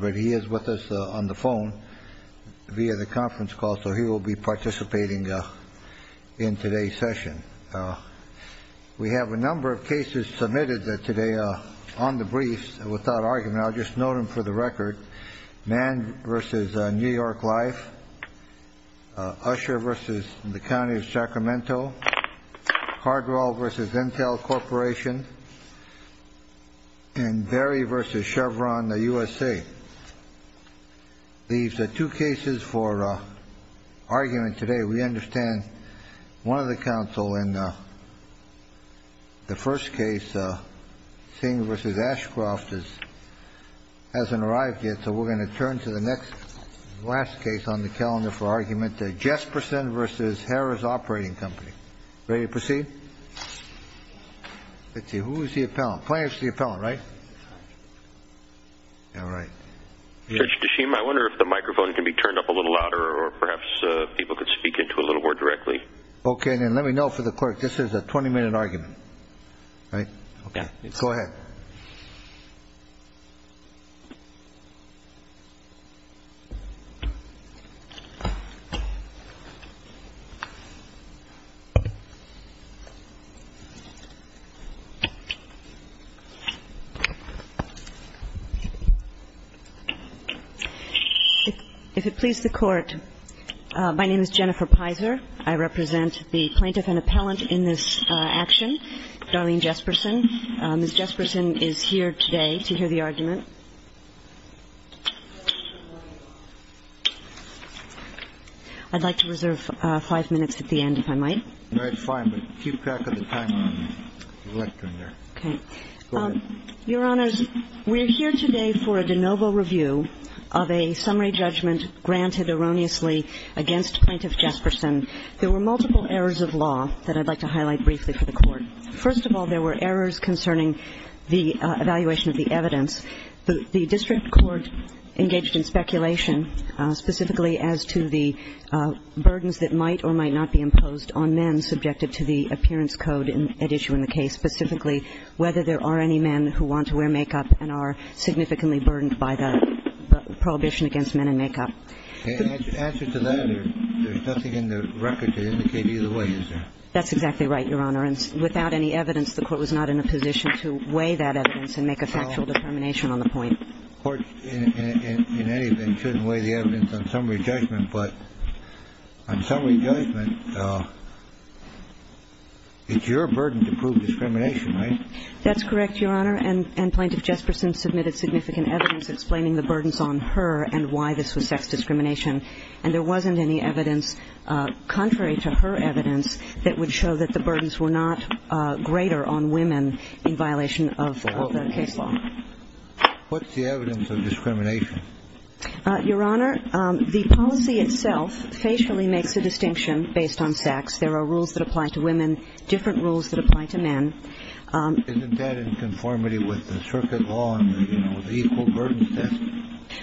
But he is with us on the phone via the conference call. So he will be participating in today's session. We have a number of cases submitted today on the briefs without argument. I'll just note them for the record. Mann v. New York Life. Usher v. The County of Sacramento. Hardwell v. Intel Corporation. And Berry v. Chevron U.S.A. These are two cases for argument today. We understand one of the counsel in the first case, Singh v. Ashcroft, hasn't arrived yet. So we're going to turn to the next, last case on the calendar for argument. Jespersen v. Harrah's Operating Company. Ready to proceed? Let's see, who's the appellant? Plaintiff's the appellant, right? All right. Judge Tashim, I wonder if the microphone can be turned up a little louder or perhaps people could speak into it a little more directly. Okay, then let me know for the clerk. This is a 20-minute argument, right? Okay. Go ahead. If it please the Court, my name is Jennifer Pizer. I represent the plaintiff and appellant in this action, Darlene Jespersen. Ms. Jespersen is here today to hear the argument. I'd like to reserve five minutes at the end, if I might. All right, fine. But keep track of the timer on the lectern there. Okay. Go ahead. Your Honors, we're here today for a de novo review of a summary judgment granted erroneously against Plaintiff Jespersen. There were multiple errors of law that I'd like to highlight briefly for the Court. First of all, there were errors concerning the evaluation of the evidence. The district court engaged in speculation specifically as to the burdens that might or might not be imposed on men subjected to the appearance code at issue in the case, specifically whether there are any men who want to wear makeup and are significantly burdened by the prohibition against men in makeup. Answer to that, there's nothing in the record to indicate either way, is there? That's exactly right, Your Honor. And without any evidence, the Court was not in a position to weigh that evidence and make a factual determination on the point. The Court, in any event, shouldn't weigh the evidence on summary judgment. But on summary judgment, it's your burden to prove discrimination, right? That's correct, Your Honor. And Plaintiff Jespersen submitted significant evidence explaining the burdens on her and why this was sex discrimination. And there wasn't any evidence contrary to her evidence that would show that the burdens were not greater on women in violation of the case law. What's the evidence of discrimination? Your Honor, the policy itself facially makes a distinction based on sex. There are rules that apply to women, different rules that apply to men. Isn't that in conformity with the circuit law and the, you know, the equal burdens test?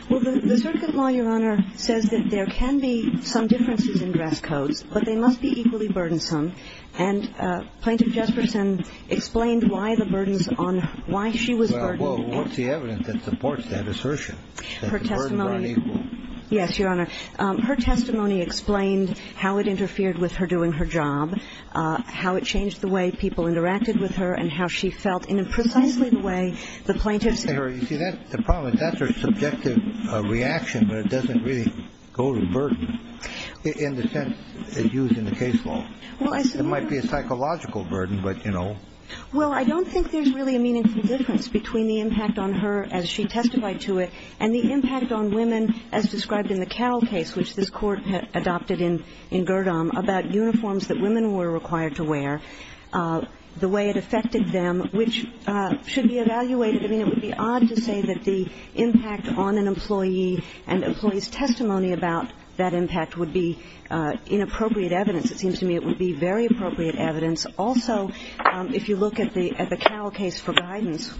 Well, the circuit law, Your Honor, says that there can be some differences in dress codes, but they must be equally burdensome. And Plaintiff Jespersen explained why the burdens on her, why she was burdened. Well, what's the evidence that supports that assertion? Her testimony. That the burdens were unequal. Yes, Your Honor. Her testimony explained how it interfered with her doing her job, how it changed the way people interacted with her, and how she felt in precisely the way the plaintiff said her. You see, the problem is that's her subjective reaction, but it doesn't really go to burden. In the sense used in the case law. It might be a psychological burden, but, you know. Well, I don't think there's really a meaningful difference between the impact on her as she testified to it, and the impact on women as described in the Carroll case, which this court had adopted in Girdham, about uniforms that women were required to wear, the way it affected them, which should be evaluated. I mean, it would be odd to say that the impact on an employee and employee's testimony about that impact would be inappropriate evidence. It seems to me it would be very appropriate evidence. Also, if you look at the Carroll case for guidance,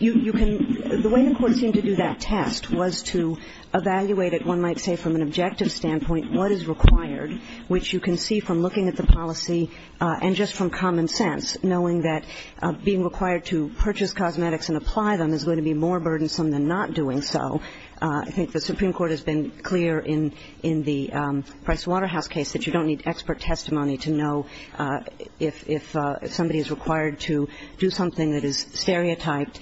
the way the court seemed to do that test was to evaluate it, one might say, from an objective standpoint, what is required, which you can see from looking at the policy and just from common sense, knowing that being required to purchase cosmetics and apply them is going to be more burdensome than not doing so. I think the Supreme Court has been clear in the Price Waterhouse case that you don't need expert testimony to know if somebody is required to do something that is stereotyped.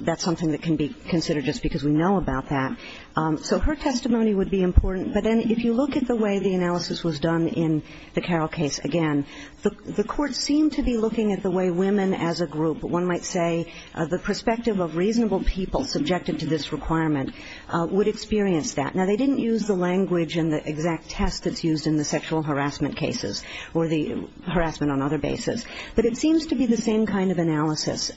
That's something that can be considered just because we know about that. So her testimony would be important. But then if you look at the way the analysis was done in the Carroll case, again, the court seemed to be looking at the way women as a group, one might say, the perspective of reasonable people subjected to this requirement, would experience that. Now, they didn't use the language and the exact test that's used in the sexual harassment cases or the harassment on other basis. But it seems to be the same kind of analysis.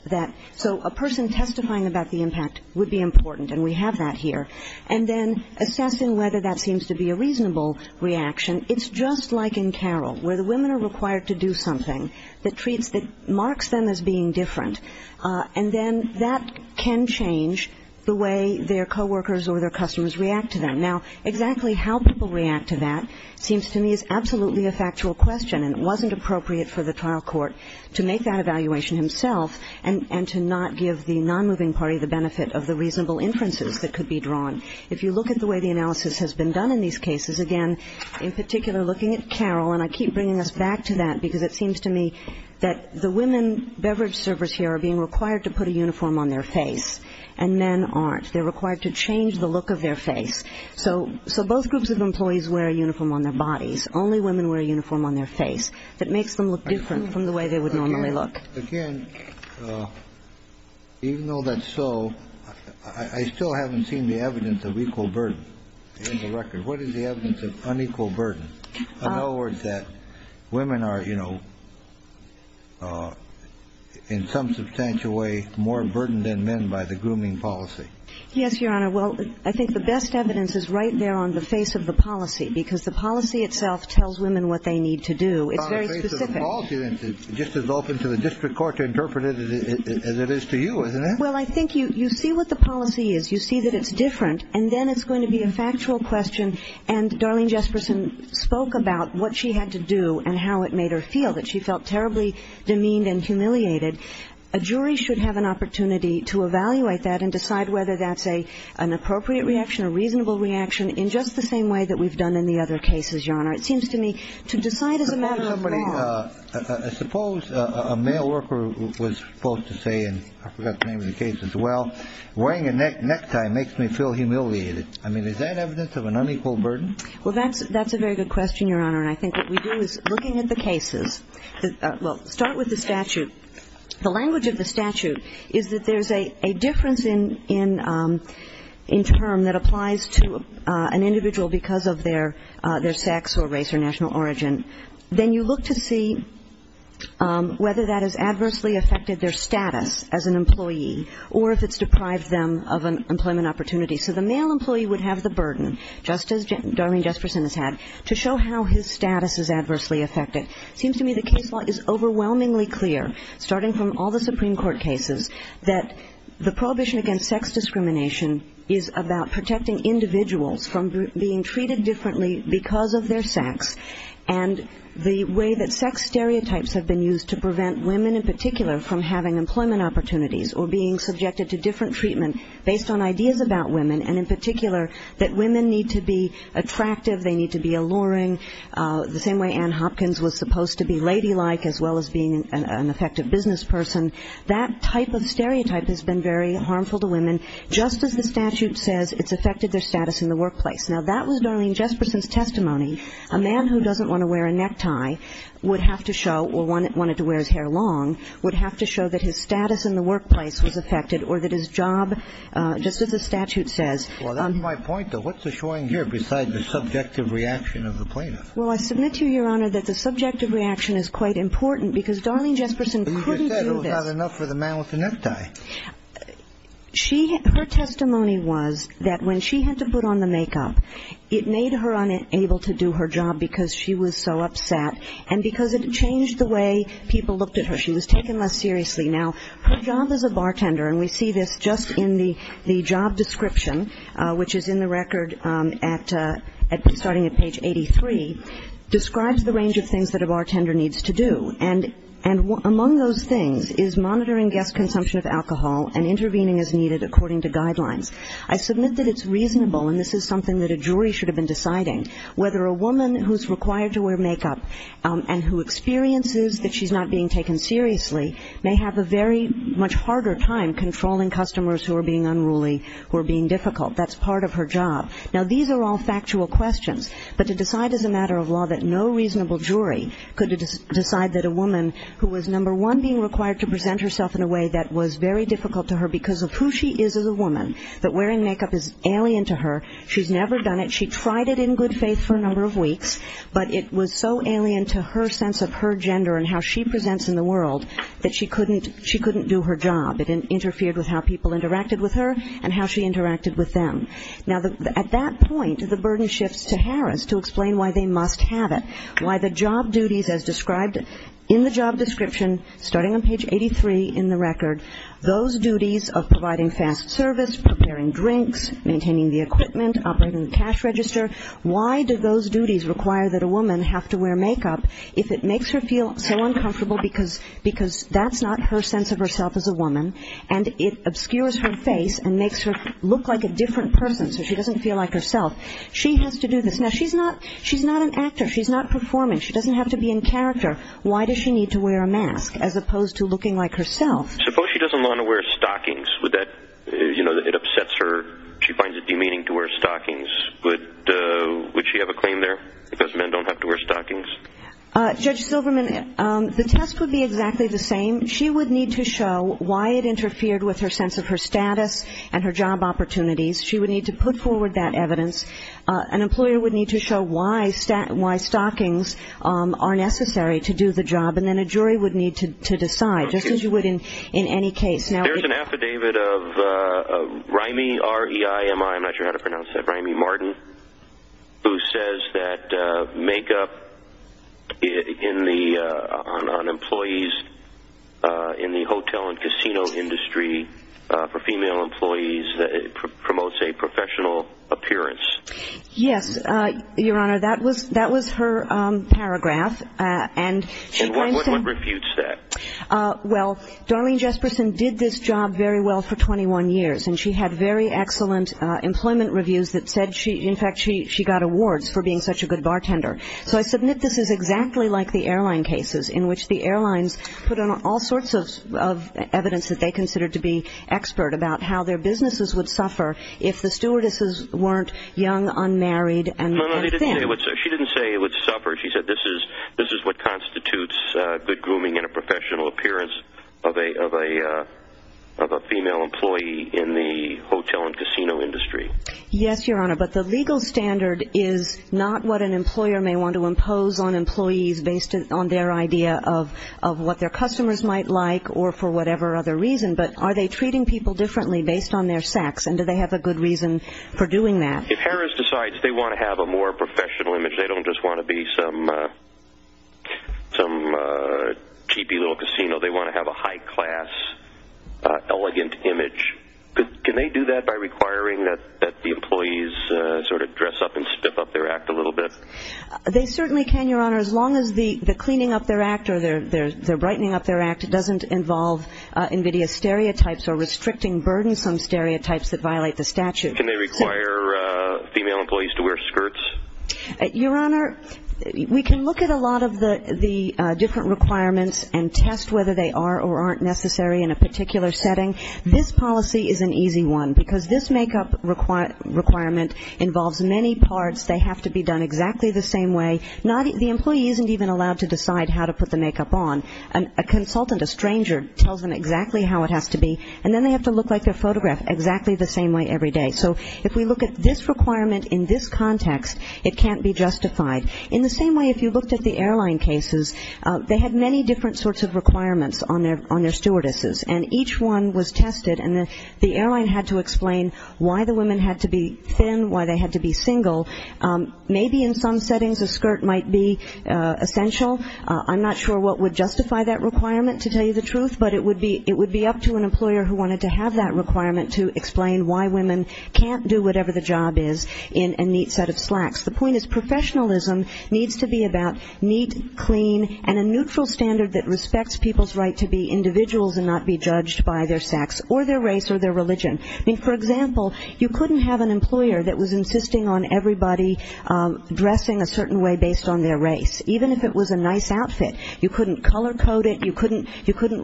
So a person testifying about the impact would be important, and we have that here. And then assessing whether that seems to be a reasonable reaction, it's just like in Carroll, where the women are required to do something that marks them as being different, and then that can change the way their co-workers or their customers react to them. Now, exactly how people react to that seems to me is absolutely a factual question, and it wasn't appropriate for the trial court to make that evaluation himself and to not give the non-moving party the benefit of the reasonable inferences that could be drawn. If you look at the way the analysis has been done in these cases, again, in particular looking at Carroll, and I keep bringing us back to that because it seems to me that the women beverage servers here are being required to put a uniform on their face, and men aren't. They're required to change the look of their face. So both groups of employees wear a uniform on their bodies. Only women wear a uniform on their face. That makes them look different from the way they would normally look. Again, even though that's so, I still haven't seen the evidence of equal burden in the record. What is the evidence of unequal burden? In other words, that women are, in some substantial way, more burdened than men by the grooming policy. Yes, Your Honor. Well, I think the best evidence is right there on the face of the policy, because the policy itself tells women what they need to do. It's very specific. On the face of the policy, then, it's just as open to the district court to interpret it as it is to you, isn't it? Well, I think you see what the policy is. You see that it's different. And then it's going to be a factual question. And Darlene Jesperson spoke about what she had to do and how it made her feel, that she felt terribly demeaned and humiliated. A jury should have an opportunity to evaluate that and decide whether that's an appropriate reaction, a reasonable reaction, in just the same way that we've done in the other cases, Your Honor. It seems to me to decide as a matter of law. I suppose a male worker was supposed to say, and I forgot the name of the case as well, wearing a necktie makes me feel humiliated. I mean, is that evidence of an unequal burden? Well, that's a very good question, Your Honor. And I think what we do is, looking at the cases, well, start with the statute. The language of the statute is that there's a difference in term that applies to an individual because of their sex or race or national origin. Then you look to see whether that has adversely affected their status as an employee or if it's deprived them of an employment opportunity. So the male employee would have the burden, just as Doreen Jesperson has had, to show how his status is adversely affected. Seems to me the case law is overwhelmingly clear, starting from all the Supreme Court cases, that the prohibition against sex discrimination is about protecting individuals from being treated differently because of their sex. And the way that sex stereotypes have been used to prevent women in particular from having employment opportunities or being subjected to different treatment based on ideas about women, and in particular, that women need to be attractive, they need to be alluring, the same way Anne Hopkins was supposed to be ladylike as well as being an effective business person, that type of stereotype has been very harmful to women, just as the statute says it's affected their status in the workplace. Now, that was Doreen Jesperson's testimony. A man who doesn't want to wear a necktie would have to show, or wanted to wear his hair long, would have to show that his status in the workplace was affected, or that his job, just as the statute says. Well, that's my point, though. What's the showing here besides the subjective reaction of the plaintiff? Well, I submit to you, Your Honor, that the subjective reaction is quite important because Darlene Jesperson couldn't do this. But you just said it was not enough for the man with the necktie. She, her testimony was that when she had to put on the makeup, it made her unable to do her job because she was so upset, and because it changed the way people looked at her. She was taken less seriously. Now, her job as a bartender, and we see this just in the job description, which is in the record starting at page 83, describes the range of things that a bartender needs to do. And among those things is monitoring guest consumption of alcohol and intervening as needed according to guidelines. I submit that it's reasonable, and this is something that a jury should have been deciding, whether a woman who's required to wear makeup and who experiences that she's not being taken seriously may have a very much harder time controlling customers who are being unruly, who are being difficult. That's part of her job. Now, these are all factual questions, but to decide as a matter of law that no reasonable jury could decide that a woman who was, number one, being required to present herself in a way that was very difficult to her because of who she is as a woman, that wearing makeup is alien to her, she's never done it, she tried it in good faith for a number of weeks, but it was so alien to her sense of her gender and how she presents in the world that she couldn't do her job. It interfered with how people interacted with her and how she interacted with them. Now, at that point, the burden shifts to Harris to explain why they must have it, why the job duties as described in the job description, starting on page 83 in the record, those duties of providing fast service, preparing drinks, maintaining the equipment, operating the cash register, why do those duties require that a woman have to wear makeup if it makes her feel so uncomfortable because that's not her sense of herself as a woman and it obscures her face and makes her look like a different person so she doesn't feel like herself. She has to do this. Now, she's not an actor, she's not performing, she doesn't have to be in character. Why does she need to wear a mask as opposed to looking like herself? Suppose she doesn't want to wear stockings, would that, you know, it upsets her, she finds it demeaning to wear stockings, would she have a claim there because men don't have to wear stockings? Judge Silverman, the test would be exactly the same. She would need to show why it interfered with her sense of her status and her job opportunities. She would need to put forward that evidence. An employer would need to show why stockings are necessary to do the job and then a jury would need to decide, just as you would in any case. Now, there's an affidavit of Rimey, R-E-I-M-E-Y, I'm not sure how to pronounce that, Rimey Martin, who says that makeup on employees in the hotel and casino industry for female employees promotes a professional appearance. Yes, Your Honor, that was her paragraph. And what refutes that? Well, Darlene Jesperson did this job very well for 21 years and she had very excellent employment reviews that said she, in fact, she got awards for being such a good bartender. So I submit this is exactly like the airline cases in which the airlines put on all sorts of evidence that they considered to be expert about how their businesses would suffer if the stewardesses weren't young, unmarried, and thin. No, no, she didn't say it would suffer. She said this is what constitutes good grooming and a professional appearance of a female employee in the hotel and casino industry. Yes, Your Honor, but the legal standard is not what an employer may want to impose on employees based on their idea of what their customers might like or for whatever other reason, but are they treating people differently based on their sex and do they have a good reason for doing that? If Harris decides they want to have a more professional image, they don't just want to be some cheapy little casino. They want to have a high-class, elegant image. Can they do that by requiring that the employees sort of dress up and spiff up their act a little bit? They certainly can, Your Honor, as long as the cleaning up their act or the brightening up their act doesn't involve invidious stereotypes or restricting burdensome stereotypes that violate the statute. Can they require female employees to wear skirts? Your Honor, we can look at a lot of the different requirements and test whether they are or aren't necessary in a particular setting. This policy is an easy one because this makeup requirement involves many parts. They have to be done exactly the same way. The employee isn't even allowed to decide how to put the makeup on. A consultant, a stranger, tells them exactly how it has to be and then they have to look like they're photographed exactly the same way every day. So if we look at this requirement in this context, it can't be justified. In the same way, if you looked at the airline cases, they had many different sorts of requirements on their stewardesses and each one was tested and the airline had to explain why the women had to be thin, why they had to be single. Maybe in some settings, a skirt might be essential. I'm not sure what would justify that requirement to tell you the truth, but it would be up to an employer who wanted to have that requirement to explain why women can't do whatever the job is in a neat set of slacks. The point is professionalism needs to be about neat, clean and a neutral standard that respects people's right to be individuals and not be judged by their sex or their race or their religion. I mean, for example, you couldn't have an employer that was insisting on everybody dressing a certain way based on their race. Even if it was a nice outfit, you couldn't color code it, you couldn't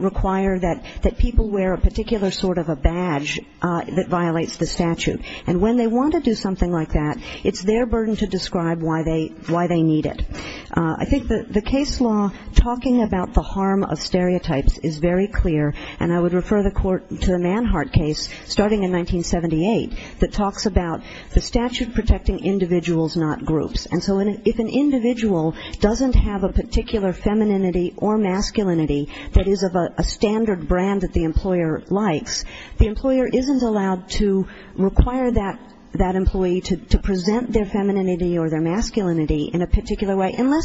require that people wear a particular sort of a badge that violates the statute. And when they want to do something like that, it's their burden to describe why they need it. I think that the case law talking about the harm of stereotypes is very clear. And I would refer the court to the Manhart case starting in 1978, that talks about the statute protecting individuals, not groups. And so if an individual doesn't have a particular femininity or masculinity that is of a standard brand that the employer likes, the employer isn't allowed to require that employee to present their femininity or their masculinity in a particular way I mean,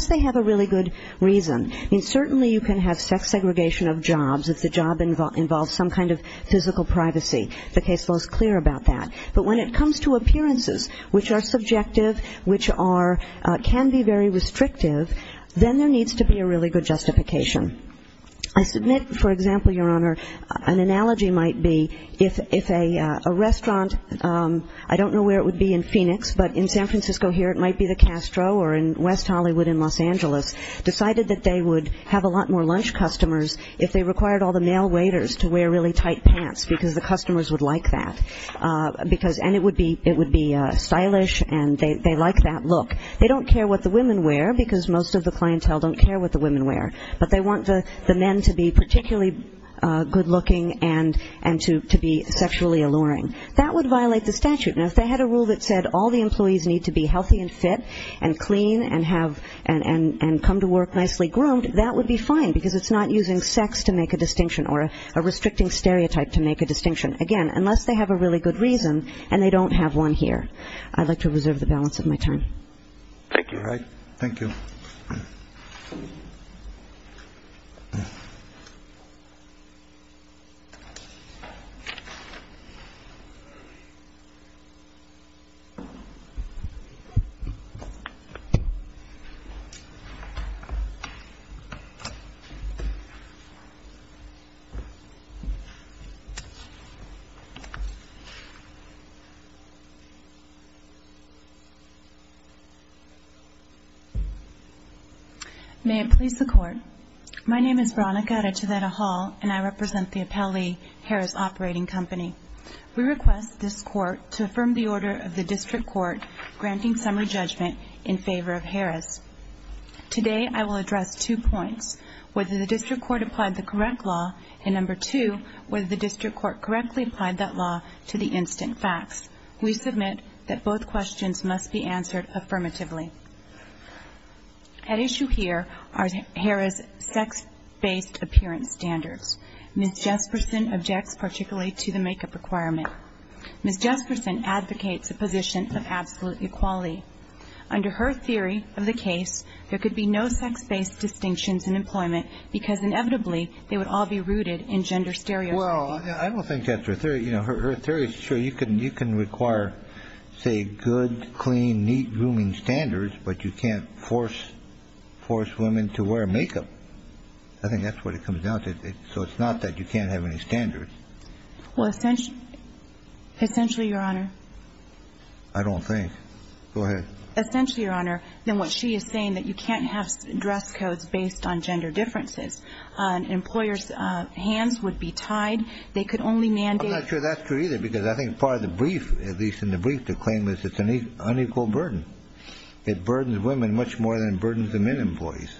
certainly you can have sex segregation of jobs if the job involves some kind of physical privacy. The case law is clear about that. But when it comes to appearances, which are subjective, which can be very restrictive, then there needs to be a really good justification. I submit, for example, Your Honor, an analogy might be if a restaurant, I don't know where it would be in Phoenix, but in San Francisco here, it might be the Castro or in West Hollywood in Los Angeles, decided that they would have a lot more lunch customers if they required all the male waiters to wear really tight pants because the customers would like that. Because, and it would be stylish and they like that look. They don't care what the women wear because most of the clientele don't care what the women wear. But they want the men to be particularly good looking and to be sexually alluring. That would violate the statute. Now, if they had a rule that said all the employees need to be healthy and fit and clean and come to work nicely groomed, that would be fine because it's not using sex to make a distinction or a restricting stereotype to make a distinction. Again, unless they have a really good reason and they don't have one here. I'd like to reserve the balance of my time. Thank you. Thank you. Thank you. May it please the court. My name is Veronica Arachiveta-Hall and I represent the Appellee Harris Operating Company. We request this court to affirm the order of the district court granting summary judgment in favor of Harris. Today, I will address two points. Whether the district court applied the correct law and number two, whether the district court correctly applied that law to the instant facts. We submit that both questions must be answered affirmatively. At issue here are Harris' sex-based appearance standards. Ms. Jesperson objects particularly to the makeup requirement. Ms. Jesperson advocates a position of absolute equality. Under her theory of the case, there could be no sex-based distinctions in employment because inevitably they would all be rooted in gender stereotypes. Well, I don't think that's her theory. You know, her theory is true. You can require, say, good, clean, neat grooming standards but you can't force women to wear makeup. I think that's what it comes down to. So it's not that you can't have any standards. Well, essentially, Your Honor. I don't think. Go ahead. Essentially, Your Honor, then what she is saying that you can't have dress codes based on gender differences. Employers' hands would be tied. They could only mandate. I'm not sure that's true either because I think part of the brief, at least in the brief, the claim is it's an unequal burden. It burdens women much more than it burdens the men employees,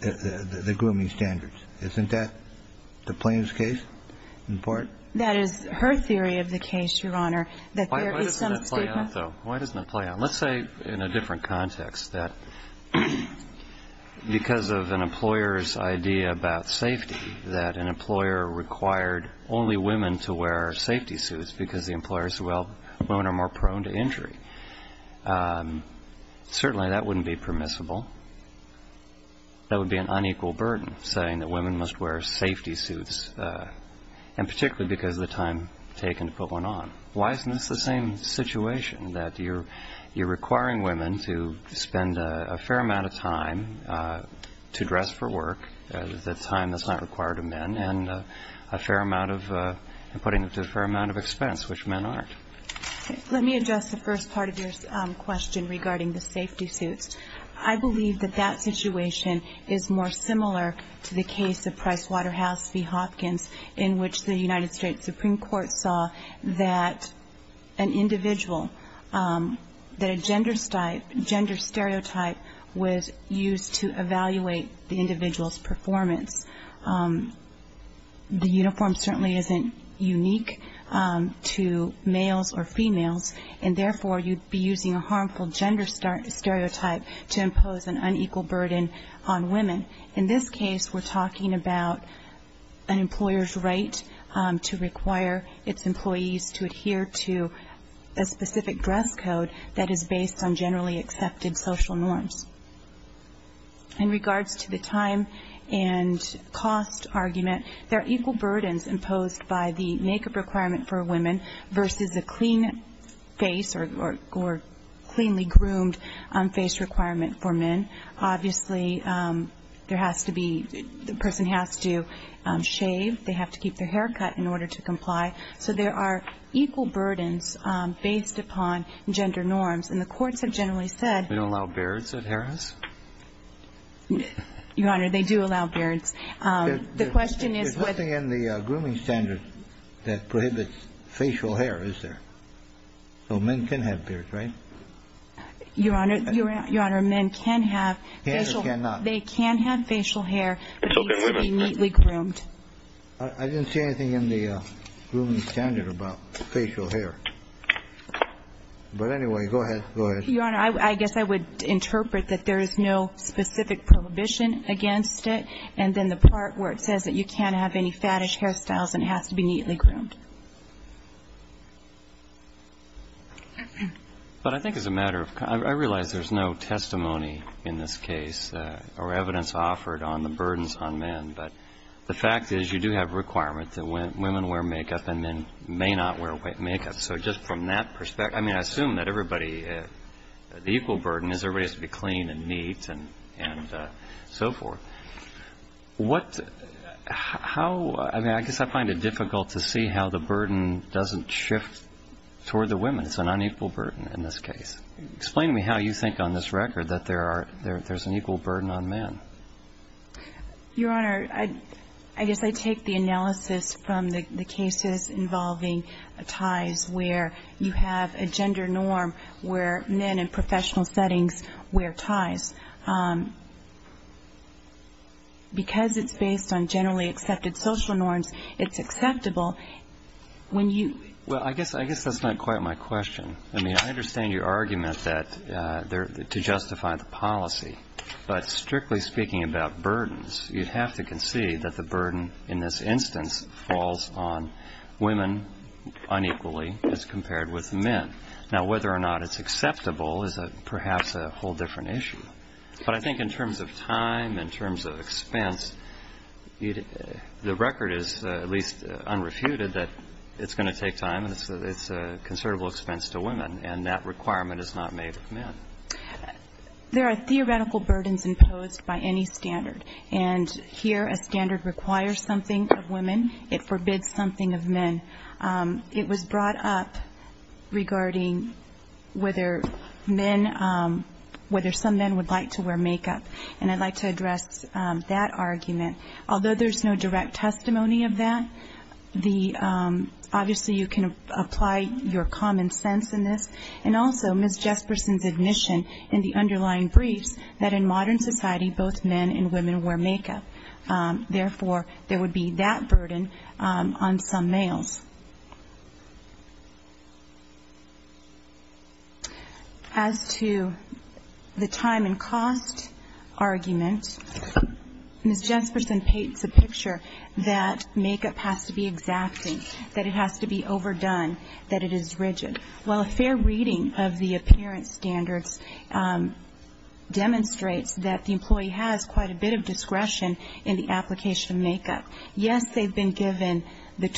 the grooming standards. Isn't that the plaintiff's case, in part? That is her theory of the case, Your Honor. Why doesn't that play out, though? Why doesn't it play out? Let's say in a different context that because of an employer's idea about safety, that an employer required only women to wear safety suits because the employer said, well, women are more prone to injury. Certainly, that wouldn't be permissible. That would be an unequal burden, saying that women must wear safety suits, and particularly because of the time taken to put one on. Why isn't this the same situation, that you're requiring women to spend a fair amount of time to dress for work, the time that's not required of men, and putting them to a fair amount of expense, which men aren't? Let me address the first part of your question regarding the safety suits. I believe that that situation is more similar to the case of Pricewaterhouse v. Hopkins, in which the United States Supreme Court saw that an individual, that a gender stereotype, was used to evaluate the individual's performance. The uniform certainly isn't unique to males or females. And therefore, you'd be using a harmful gender stereotype to impose an unequal burden on women. In this case, we're talking about an employer's right to require its employees to adhere to a specific dress code that is based on generally accepted social norms. In regards to the time and cost argument, there are equal burdens imposed by the makeup requirement for women versus a clean face or cleanly groomed face requirement for men. Obviously, the person has to shave. They have to keep their hair cut in order to comply. So there are equal burdens based upon gender norms. And the courts have generally said They don't allow beards at hair house? Your Honor, they do allow beards. The question is what There's nothing in the grooming standard that prohibits facial hair, is there? So men can have beards, right? Your Honor, men can have facial hair. They can have facial hair, but it needs to be neatly groomed. I didn't see anything in the grooming standard about facial hair. But anyway, go ahead. Your Honor, I guess I would interpret that there is no specific prohibition against it. And then the part where it says that you can't have any fattish hairstyles and it has to be neatly groomed. But I think it's a matter of I realize there's no testimony in this case or evidence offered on the burdens on men. But the fact is you do have a requirement that women wear makeup and men may not wear makeup. So just from that perspective, I mean, I assume that everybody, the equal burden is everybody has to be clean and neat and so forth. What, how, I mean, I guess I find it difficult to see how the burden doesn't shift toward the women. It's an unequal burden in this case. Explain to me how you think on this record that there's an equal burden on men. Your Honor, I guess I take the analysis from the cases involving ties where you have a gender norm where men in professional settings wear ties. Because it's based on generally accepted social norms, it's acceptable when you. Well, I guess that's not quite my question. I mean, I understand your argument that to justify the policy. But strictly speaking about burdens, you have to concede that the burden in this instance falls on women unequally as compared with men. Now, whether or not it's acceptable is perhaps a whole different issue. But I think in terms of time, in terms of expense, the record is at least unrefuted that it's going to take time. And it's a considerable expense to women. And that requirement is not made of men. There are theoretical burdens imposed by any standard. And here, a standard requires something of women. It forbids something of men. It was brought up regarding whether men, whether some men would like to wear makeup. And I'd like to address that argument. Although there's no direct testimony of that, obviously, you can apply your common sense in this. And also, Ms. Jesperson's admission in the underlying briefs that in modern society, both men and women wear makeup. Therefore, there would be that burden on some males. As to the time and cost argument, Ms. Jesperson paints a picture that makeup has to be exacting, that it has to be overdone, that it is rigid. Well, a fair reading of the appearance standards demonstrates that the employee has quite a bit of discretion in the application of makeup. And that's why it's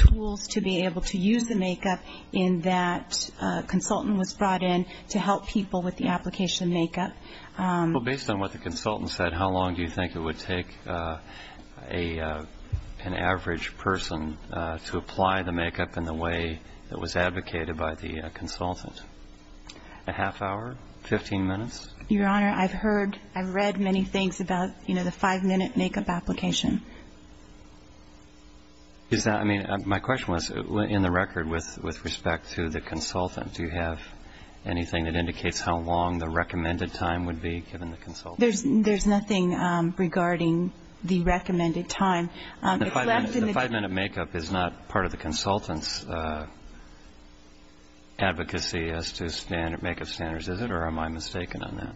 important to be able to use the makeup in that a consultant was brought in to help people with the application of makeup. Well, based on what the consultant said, how long do you think it would take an average person to apply the makeup in the way that was advocated by the consultant? A half hour? 15 minutes? Your Honor, I've heard, I've read many things about the five-minute makeup application. Is that, I mean, my question was, in the record, with respect to the consultant, do you have anything that indicates how long the recommended time would be, given the consultant? There's nothing regarding the recommended time. The five-minute makeup is not part of the consultant's advocacy as to standard makeup standards, is it, or am I mistaken on that?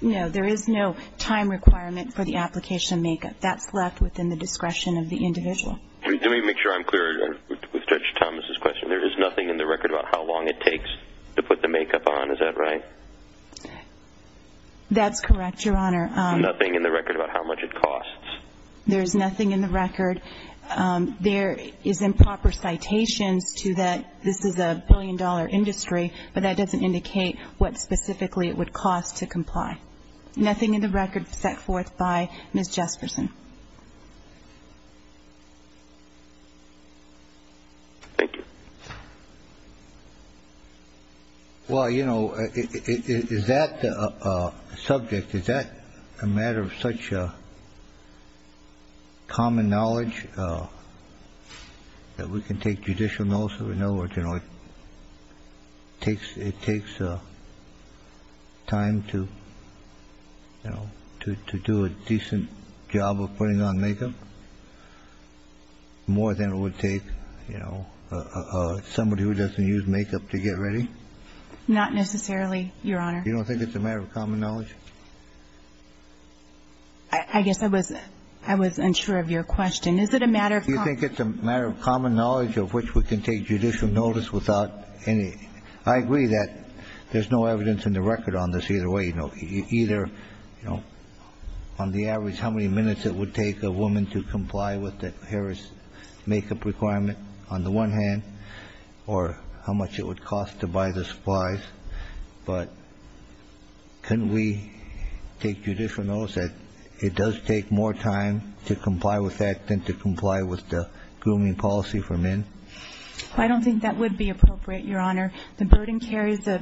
No, there is no time requirement for the application makeup. That's left within the discretion of the individual. Let me make sure I'm clear with Judge Thomas's question. There is nothing in the record about how long it takes to put the makeup on, is that right? That's correct, Your Honor. Nothing in the record about how much it costs? There's nothing in the record. There is improper citations to that this is a billion-dollar industry, but that doesn't indicate what specifically it would cost to comply. Nothing in the record set forth by Ms. Jespersen. Thank you. Well, you know, is that a subject, is that a matter of such common knowledge that we can take judicial notice of? In other words, it takes time to do a decent job of putting on makeup, more than it would take somebody who doesn't use makeup to get ready? Not necessarily, Your Honor. You don't think it's a matter of common knowledge? I guess I was unsure of your question. Is it a matter of common knowledge of which we can take judicial notice without any? I agree that there's no evidence in the record on this, either way, either on the average how many minutes it would take a woman to comply with the hair and makeup requirement on the one hand, or how much it would cost to buy the supplies. But couldn't we take judicial notice that it does take more time to comply with that than to comply with the grooming policy for men? I don't think that would be appropriate, Your Honor. The burden carries the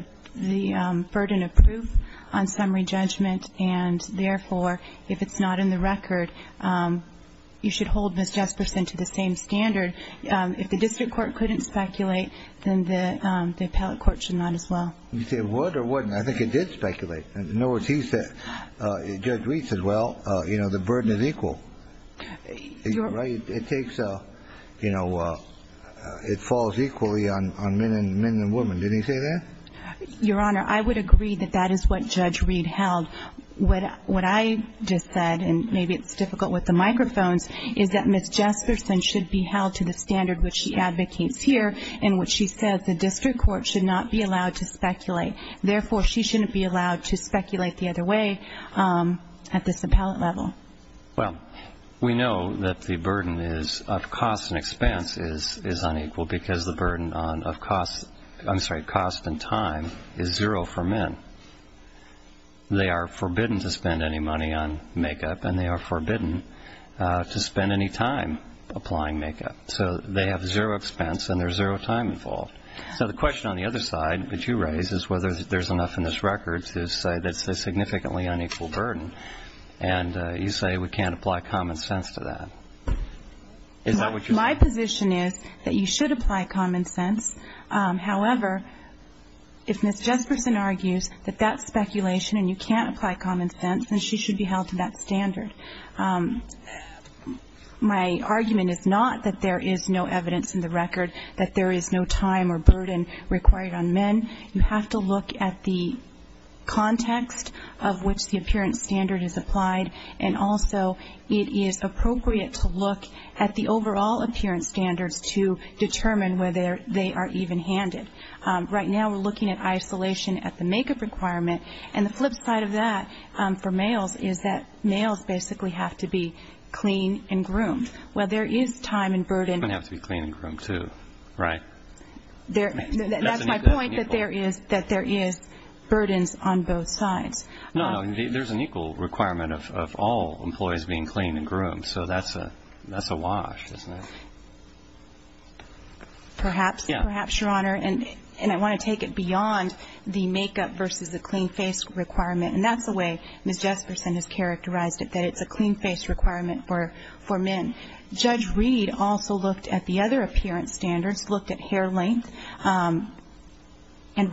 burden of proof on summary judgment. And therefore, if it's not in the record, you should hold Ms. Jespersen to the same standard. If the district court couldn't speculate, then the appellate court should not as well. You say it would or wouldn't? I think it did speculate. In other words, he said, Judge Reed said, well, you know, the burden is equal. You're right. It takes a, you know, it falls equally on men and women. Didn't he say that? Your Honor, I would agree that that is what Judge Reed held. What I just said, and maybe it's difficult with the microphones, is that Ms. Jespersen should be held to the standard which she advocates here, in which she says the district court should not be allowed to speculate. Therefore, she shouldn't be allowed to speculate the other way at this appellate level. Well, we know that the burden of cost and expense is unequal, because the burden of cost and time is zero for men. They are forbidden to spend any money on makeup, and they are forbidden to spend any time applying makeup. So they have zero expense, and there's zero time involved. So the question on the other side that you raise is whether there's enough in this record to say that's a significantly unequal burden. And you say we can't apply common sense to that. Is that what you're saying? My position is that you should apply common sense. However, if Ms. Jespersen argues that that's speculation and you can't apply common sense, then she should be held to that standard. My argument is not that there is no evidence in the record that there is no time or burden required on men. You have to look at the context of which the appearance standard is applied. And also, it is appropriate to look at the overall appearance standards to determine whether they are even-handed. Right now, we're looking at isolation at the makeup requirement. And the flip side of that for males is that males basically have to be clean and groomed. Well, there is time and burden. They have to be clean and groomed, too, right? That's my point, that there is burdens on both sides. No, there's an equal requirement of all employees being clean and groomed. So that's a wash, isn't it? Perhaps, perhaps, Your Honor. And I want to take it beyond the makeup versus the clean face requirement. And that's the way Ms. Jespersen has characterized it, that it's a clean face requirement for men. Judge Reed also looked at the other appearance standards, looked at hair length, and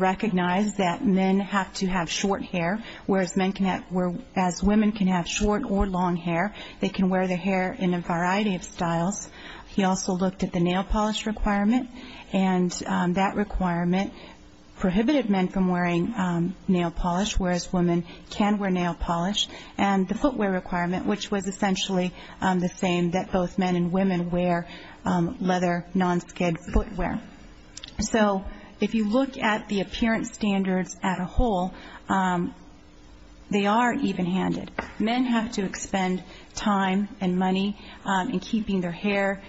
recognized that men have to have short hair, whereas women can have short or long hair. They can wear their hair in a variety of styles. He also looked at the nail polish requirement. And that requirement prohibited men from wearing nail polish, whereas women can wear nail polish. And the footwear requirement, which was essentially the same, that both men and women wear leather non-skid footwear. So if you look at the appearance standards at a whole, they are even-handed. Men have to expend time and money in keeping their hair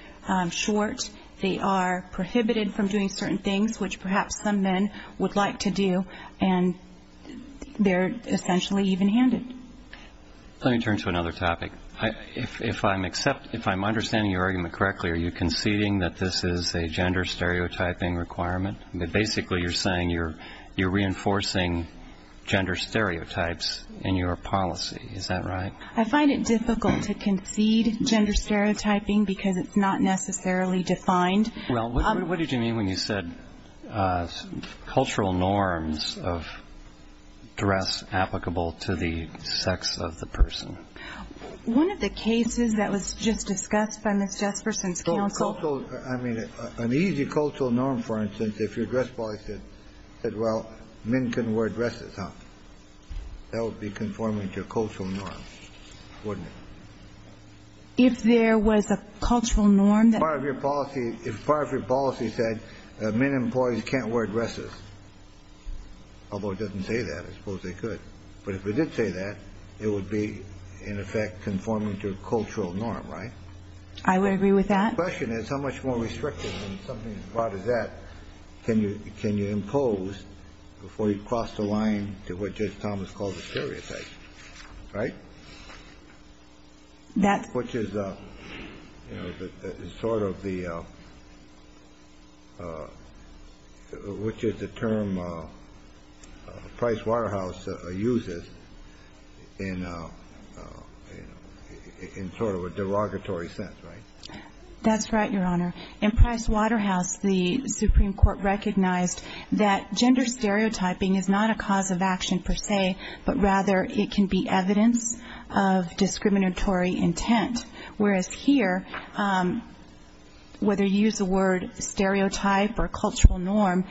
short. They are prohibited from doing certain things, which perhaps some men would like to do. And they're essentially even-handed. Let me turn to another topic. If I'm understanding your argument correctly, are you conceding that this is a gender stereotyping requirement? That basically you're saying you're reinforcing gender stereotypes in your policy, is that right? I find it difficult to concede gender stereotyping because it's not necessarily defined. Well, what did you mean when you said cultural norms of dress applicable to the sex of the person? One of the cases that was just discussed by Ms. Jesperson's counsel. I mean, an easy cultural norm, for instance, if your dress policy said, well, men can wear dresses, huh? That would be conforming to a cultural norm, wouldn't it? If there was a cultural norm that- If part of your policy said, men and boys can't wear dresses, although it doesn't say that, I suppose they could. But if it did say that, it would be, in effect, conforming to a cultural norm, right? I would agree with that. My question is, how much more restrictive and something as broad as that can you impose before you cross the line to what Judge Thomas called a stereotype, right? Which is, you know, sort of the, which is the term Price Waterhouse uses in sort of a derogatory sense, right? That's right, Your Honor. In Price Waterhouse, the Supreme Court recognized that gender stereotyping is not a cause of action per se, but rather it can be evidence of discriminatory intent. Whereas here, whether you use the word stereotype or cultural norm,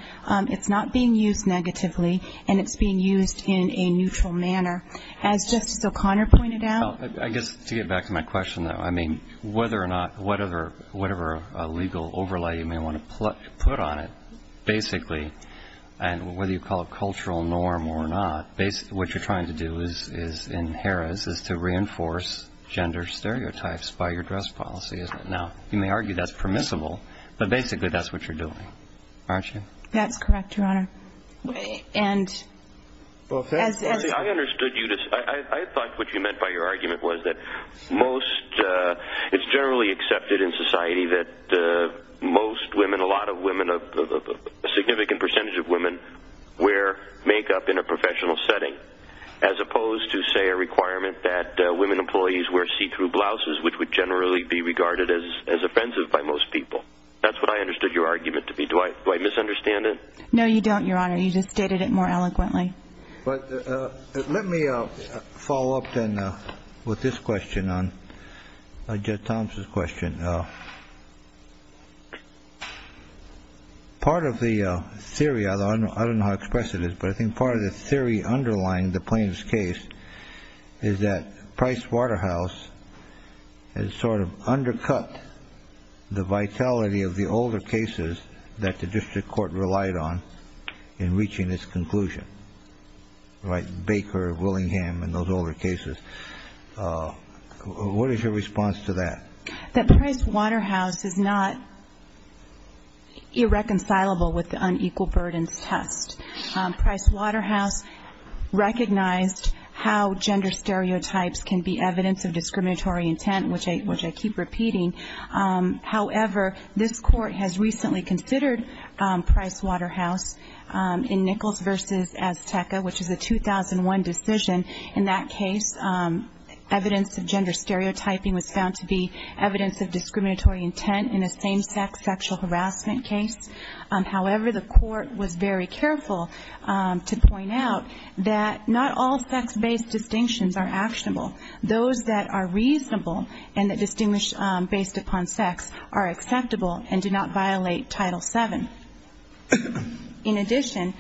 it's not being used negatively, and it's being used in a neutral manner. As Justice O'Connor pointed out- I guess, to get back to my question, though, whether or not, whatever legal overlay you may want to put on it, basically, and whether you call it cultural norm or not, what you're trying to do is, in Harrah's, is to reinforce gender stereotypes by your dress policy, isn't it? Now, you may argue that's permissible, but basically that's what you're doing, aren't you? That's correct, Your Honor, and- Well, I understood you. I thought what you meant by your argument was that it's generally accepted in society that most women, a significant percentage of women, wear makeup in a professional setting, as opposed to, say, a requirement that women employees wear see-through blouses, which would generally be regarded as offensive by most people. That's what I understood your argument to be. Do I misunderstand it? No, you don't, Your Honor. You just stated it more eloquently. But let me follow up then with this question on Judge Thompson's question. Part of the theory, I don't know how to express it, but I think part of the theory underlying the plaintiff's case is that Price Waterhouse has sort of undercut the vitality of the older cases that the district court relied on in reaching its conclusion, right? Baker, Willingham, and those older cases. What is your response to that? That Price Waterhouse is not irreconcilable with the unequal burdens test. Price Waterhouse recognized how gender stereotypes can be evidence of discriminatory intent, which I keep repeating. However, this court has recently considered Price Waterhouse in Nichols versus Azteca, which is a 2001 decision. In that case, evidence of gender stereotyping was found to be evidence of discriminatory intent in a same-sex sexual harassment case. However, the court was very careful to point out that not all sex-based distinctions are actionable. Those that are reasonable and that distinguish based upon sex are acceptable and do not violate Title VII. In addition,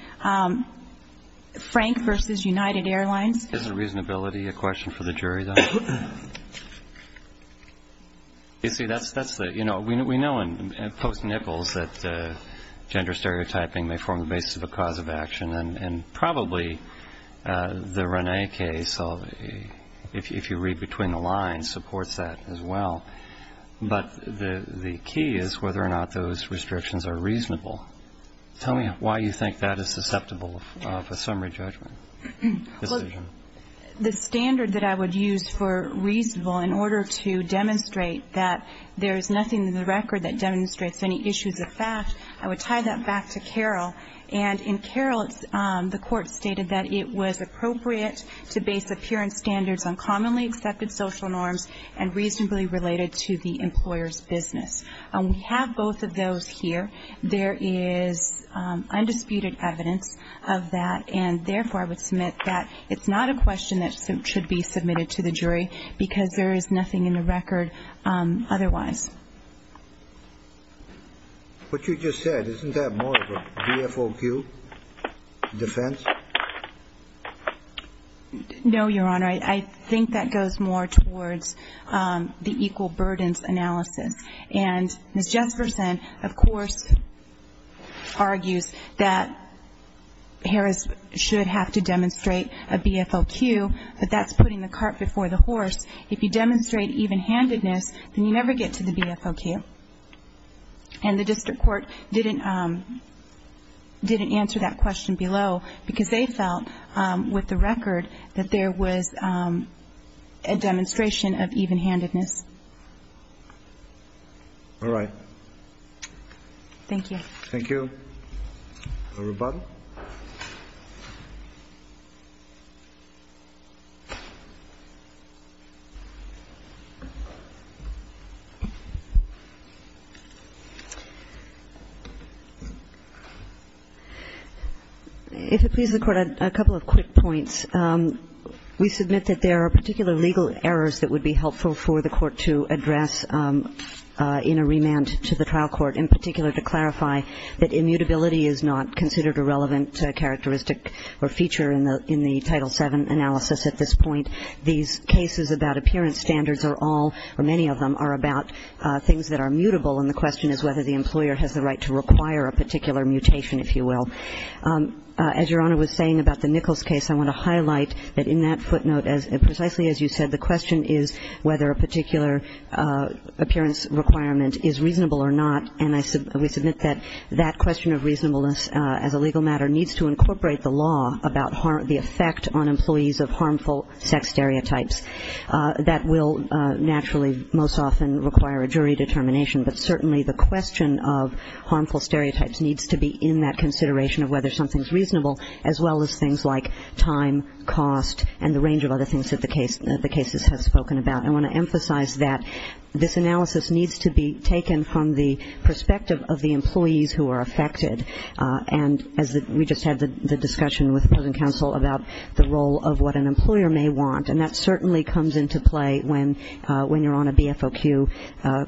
Frank versus United Airlines. Is the reasonability a question for the jury, though? You see, that's the, you know, we know in post-Nichols that gender stereotyping may form the basis of a cause of action, and probably the Rene case, if you read between the lines, supports that as well. But the key is whether or not those restrictions are reasonable. Tell me why you think that is susceptible of a summary judgment decision. The standard that I would use for reasonable in order to demonstrate that there is nothing in the record that demonstrates any issues of fact, I would tie that back to Carroll. And in Carroll, the court stated that it was appropriate to base appearance standards on commonly accepted social norms and reasonably related to the employer's business. And we have both of those here. There is undisputed evidence of that. And therefore, I would submit that it's not a question that should be submitted to the jury because there is nothing in the record otherwise. What you just said, isn't that more of a VFOQ defense? No, Your Honor. I think that goes more towards the equal burdens analysis. And Ms. Jesperson, of course, argues that Harris should have to demonstrate a VFOQ, but that's putting the cart before the horse. If you demonstrate even-handedness, then you never get to the VFOQ. And the district court didn't answer that question below because they felt, with the record, that there was a demonstration of even-handedness. All right. Thank you. Thank you. Ms. Rubato. Thank you. If it pleases the court, a couple of quick points. We submit that there are particular legal errors that would be helpful for the court to address in a remand to the trial court, in particular to clarify that immutability is not considered a relevant characteristic or feature in the Title VII analysis at this point. These cases about appearance standards are all, or many of them, are about things that are mutable, and the question is whether the employer has the right to require a particular mutation, if you will. As Your Honor was saying about the Nichols case, I want to highlight that in that footnote, precisely as you said, the question is whether a particular appearance requirement is reasonable or not. And we submit that that question of reasonableness as a legal matter needs to incorporate the law about the effect on employees of harmful sex stereotypes. That will naturally, most often, require a jury determination, but certainly the question of harmful stereotypes needs to be in that consideration of whether something's reasonable, as well as things like time, cost, and the range of other things that the cases have spoken about. I want to emphasize that this analysis needs to be taken from the perspective of the employees who are affected, and as we just had the discussion with the present counsel about the role of what an employer may want, and that certainly comes into play when you're on a BFOQ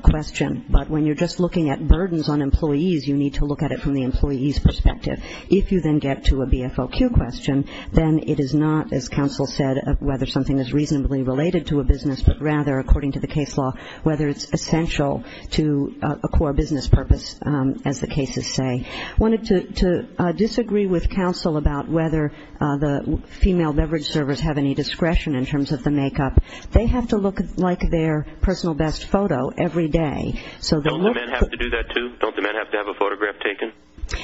question, but when you're just looking at burdens on employees, you need to look at it from the employee's perspective. If you then get to a BFOQ question, then it is not, as counsel said, whether something is reasonably related to a business, but rather, according to the case law, whether it's essential to a core business purpose, as the cases say. Wanted to disagree with counsel about whether the female beverage servers have any discretion in terms of the makeup. They have to look like their personal best photo every day, so they look- Don't the men have to do that, too? Don't the men have to have a photograph taken?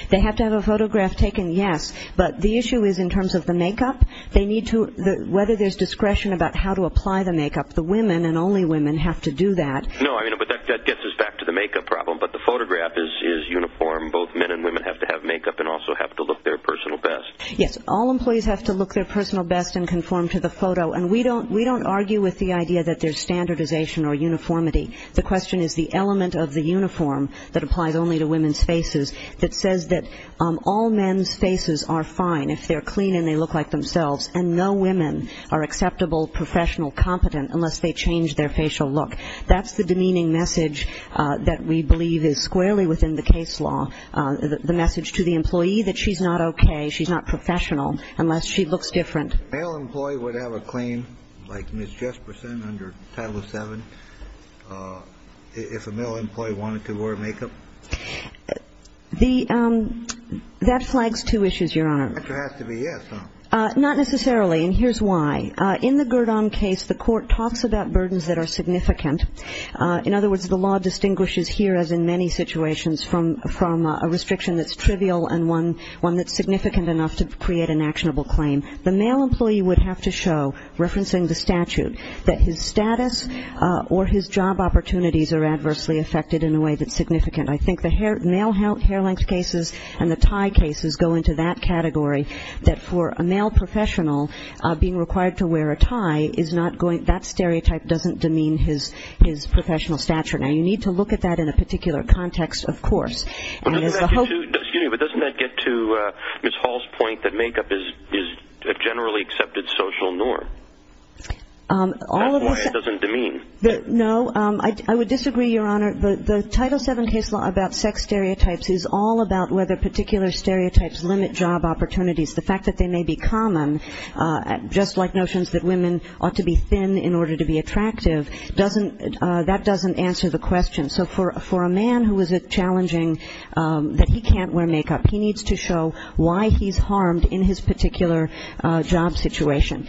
They have to have a photograph taken, yes, but the issue is, in terms of the makeup, they need to, whether there's discretion about how to apply the makeup, the women and only women have to do that. No, but that gets us back to the makeup problem, but the photograph is uniform. Both men and women have to have makeup and also have to look their personal best. Yes, all employees have to look their personal best and conform to the photo, and we don't argue with the idea that there's standardization or uniformity. The question is the element of the uniform that applies only to women's faces that says that all men's faces are fine if they're clean and they look like themselves, and no women are acceptable, professional, competent, unless they change their facial look. That's the demeaning message that we believe is squarely within the case law, the message to the employee that she's not okay, she's not professional, unless she looks different. Male employee would have a claim, like Ms. Jesperson under Title VII, if a male employee wanted to wear makeup? That flags two issues, Your Honor. But there has to be, yes, huh? Not necessarily, and here's why. In the Gurdon case, the court talks about burdens that are significant. In other words, the law distinguishes here, as in many situations, from a restriction that's trivial and one that's significant enough to create an actionable claim. The male employee would have to show, referencing the statute, that his status or his job opportunities are adversely affected in a way that's significant. I think the male hair length cases and the tie cases go into that category, that for a male professional being required to wear a tie is not going, that stereotype doesn't demean his professional stature. Now, you need to look at that in a particular context, of course. And as a hope- But doesn't that get to Ms. Hall's point that makeup is a generally accepted social norm? That's why it doesn't demean. No, I would disagree, Your Honor. The Title VII case law about sex stereotypes is all about whether particular stereotypes limit job opportunities. The fact that they may be common, just like notions that women ought to be thin in order to be attractive, doesn't, that doesn't answer the question. So for a man who is challenging that he can't wear makeup, he needs to show why he's harmed in his particular job situation.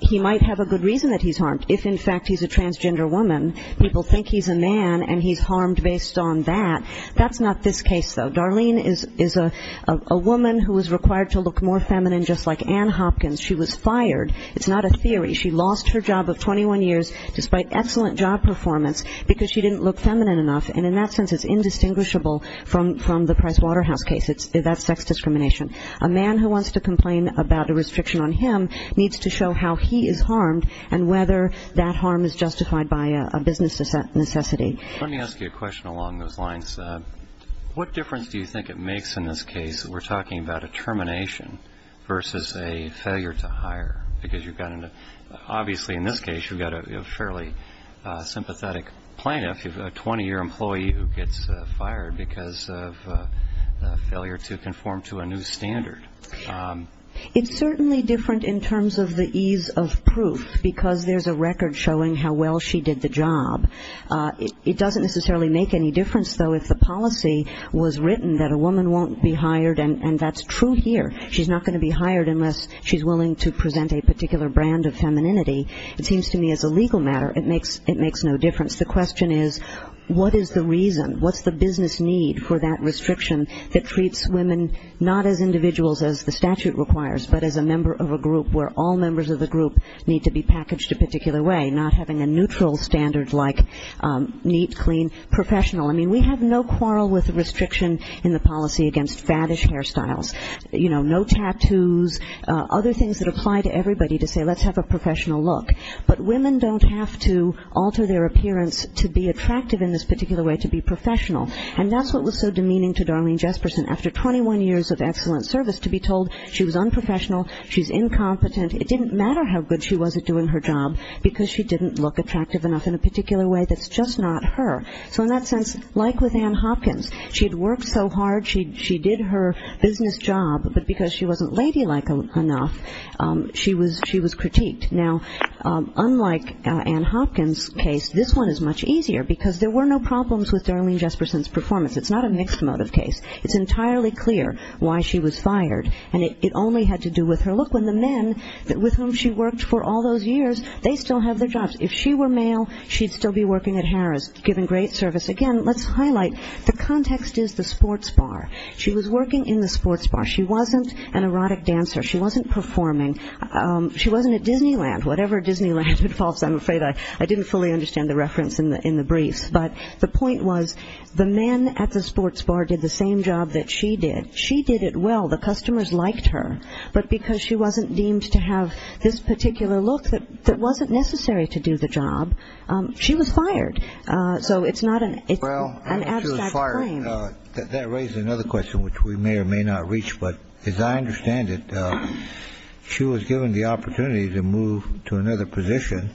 He might have a good reason that he's harmed if, in fact, he's a transgender woman. People think he's a man and he's harmed based on that. That's not this case, though. Darlene is a woman who is required to look more feminine, just like Ann Hopkins. She was fired. It's not a theory. She lost her job of 21 years despite excellent job performance because she didn't look feminine enough. And in that sense, it's indistinguishable from the Price Waterhouse case. It's that sex discrimination. A man who wants to complain about a restriction on him needs to show how he is harmed and whether that harm is justified by a business necessity. Let me ask you a question along those lines. What difference do you think it makes in this case that we're talking about a termination versus a failure to hire? Because you've got, obviously in this case, you've got a fairly sympathetic plaintiff, you've got a 20-year employee who gets fired because of a failure to conform to a new standard. It's certainly different in terms of the ease of proof because there's a record showing how well she did the job. It doesn't necessarily make any difference, though, if the policy was written that a woman won't be hired, and that's true here. She's not gonna be hired unless she's willing to present a particular brand of femininity. It seems to me as a legal matter, it makes no difference. The question is, what is the reason? What's the business need for that restriction that treats women not as individuals as the statute requires, but as a member of a group where all members of the group need to be packaged a particular way, not having a neutral standard like neat, clean, professional. We have no quarrel with restriction in the policy against faddish hairstyles, no tattoos, other things that apply to everybody to say let's have a professional look. But women don't have to alter their appearance to be attractive in this particular way, to be professional. And that's what was so demeaning to Darlene Jesperson after 21 years of excellent service, to be told she was unprofessional, she's incompetent. It didn't matter how good she was at doing her job because she didn't look attractive enough in a particular way that's just not her. So in that sense, like with Anne Hopkins, she'd worked so hard, she did her business job, but because she wasn't ladylike enough, she was critiqued. Now, unlike Anne Hopkins' case, this one is much easier because there were no problems with Darlene Jesperson's performance. It's not a mixed motive case. It's entirely clear why she was fired. And it only had to do with her. Look, when the men with whom she worked for all those years, they still have their jobs. If she were male, she'd still be working at Harris giving great service. Again, let's highlight the context is the sports bar. She was working in the sports bar. She wasn't an erotic dancer. She wasn't performing. She wasn't at Disneyland, whatever Disneyland involves. I'm afraid I didn't fully understand the reference in the brief. But the point was the men at the sports bar did the same job that she did. She did it well, the customers liked her, that wasn't necessary to do the job, she was fired. So it's not an abstract claim. That raises another question, which we may or may not reach. But as I understand it, she was given the opportunity to move to another position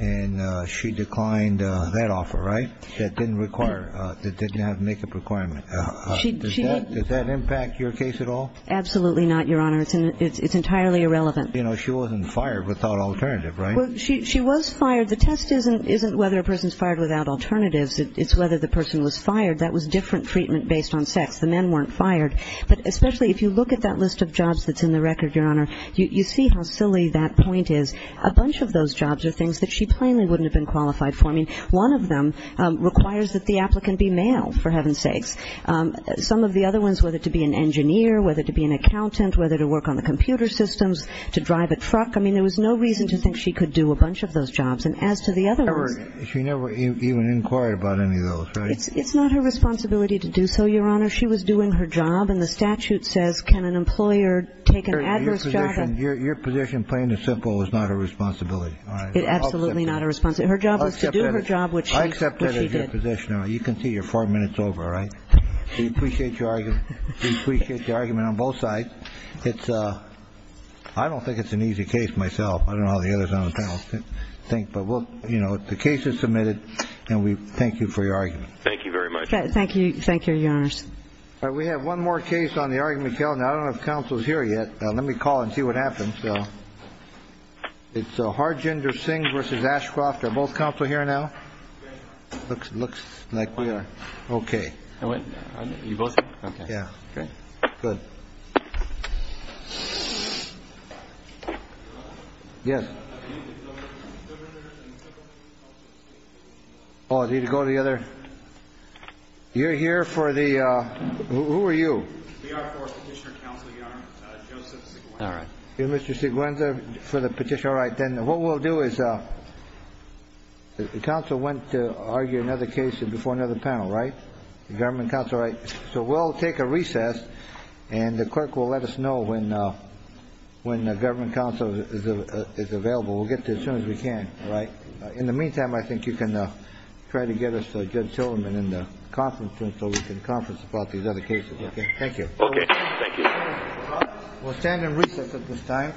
and she declined that offer, right? That didn't require, that didn't have make-up requirement. Does that impact your case at all? Absolutely not, Your Honor, it's entirely irrelevant. You know, she wasn't fired without alternative, right? She was fired. The test isn't whether a person's fired without alternatives, it's whether the person was fired. That was different treatment based on sex. The men weren't fired. But especially if you look at that list of jobs that's in the record, Your Honor, you see how silly that point is. A bunch of those jobs are things that she plainly wouldn't have been qualified for. I mean, one of them requires that the applicant be male, for heaven's sakes. Some of the other ones, whether to be an engineer, whether to be an accountant, whether to work on the computer systems, to drive a truck, I mean, there was no reason to think she could do a bunch of those jobs. And as to the other ones... She never even inquired about any of those, right? It's not her responsibility to do so, Your Honor. She was doing her job. And the statute says, can an employer take an adverse job and... Your position, plain and simple, is not a responsibility. It's absolutely not a responsibility. Her job was to do her job, which she did. I accept that as your position, Your Honor. You can see you're four minutes over, right? We appreciate your argument on both sides. I don't think it's an easy case myself. I don't know how the others on the panel think, but the case is submitted, and we thank you for your argument. Thank you very much. Thank you, Your Honors. All right, we have one more case on the argument, Gail. Now, I don't know if counsel's here yet. Let me call and see what happens. It's Harjinder Singh versus Ashcroft. Are both counsel here now? Looks like we are. Okay. You both are? Yeah. Good. Yes. Mr. Siguenza and the clerk will help you speak. Oh, do you need to go to the other? You're here for the, who are you? We are for petitioner counsel, Your Honor. Joseph Siguenza. All right. You're Mr. Siguenza for the petitioner, all right. Then what we'll do is, the counsel went to argue another case before another panel, right? The government counsel, right? So we'll take a recess, and the clerk will let us know when the government counsel is available. We'll get there as soon as we can, all right? In the meantime, I think you can try to get us Judge Tillerman in the conference room so we can conference about these other cases, okay? Thank you. Okay, thank you. We'll stand in recess at this time.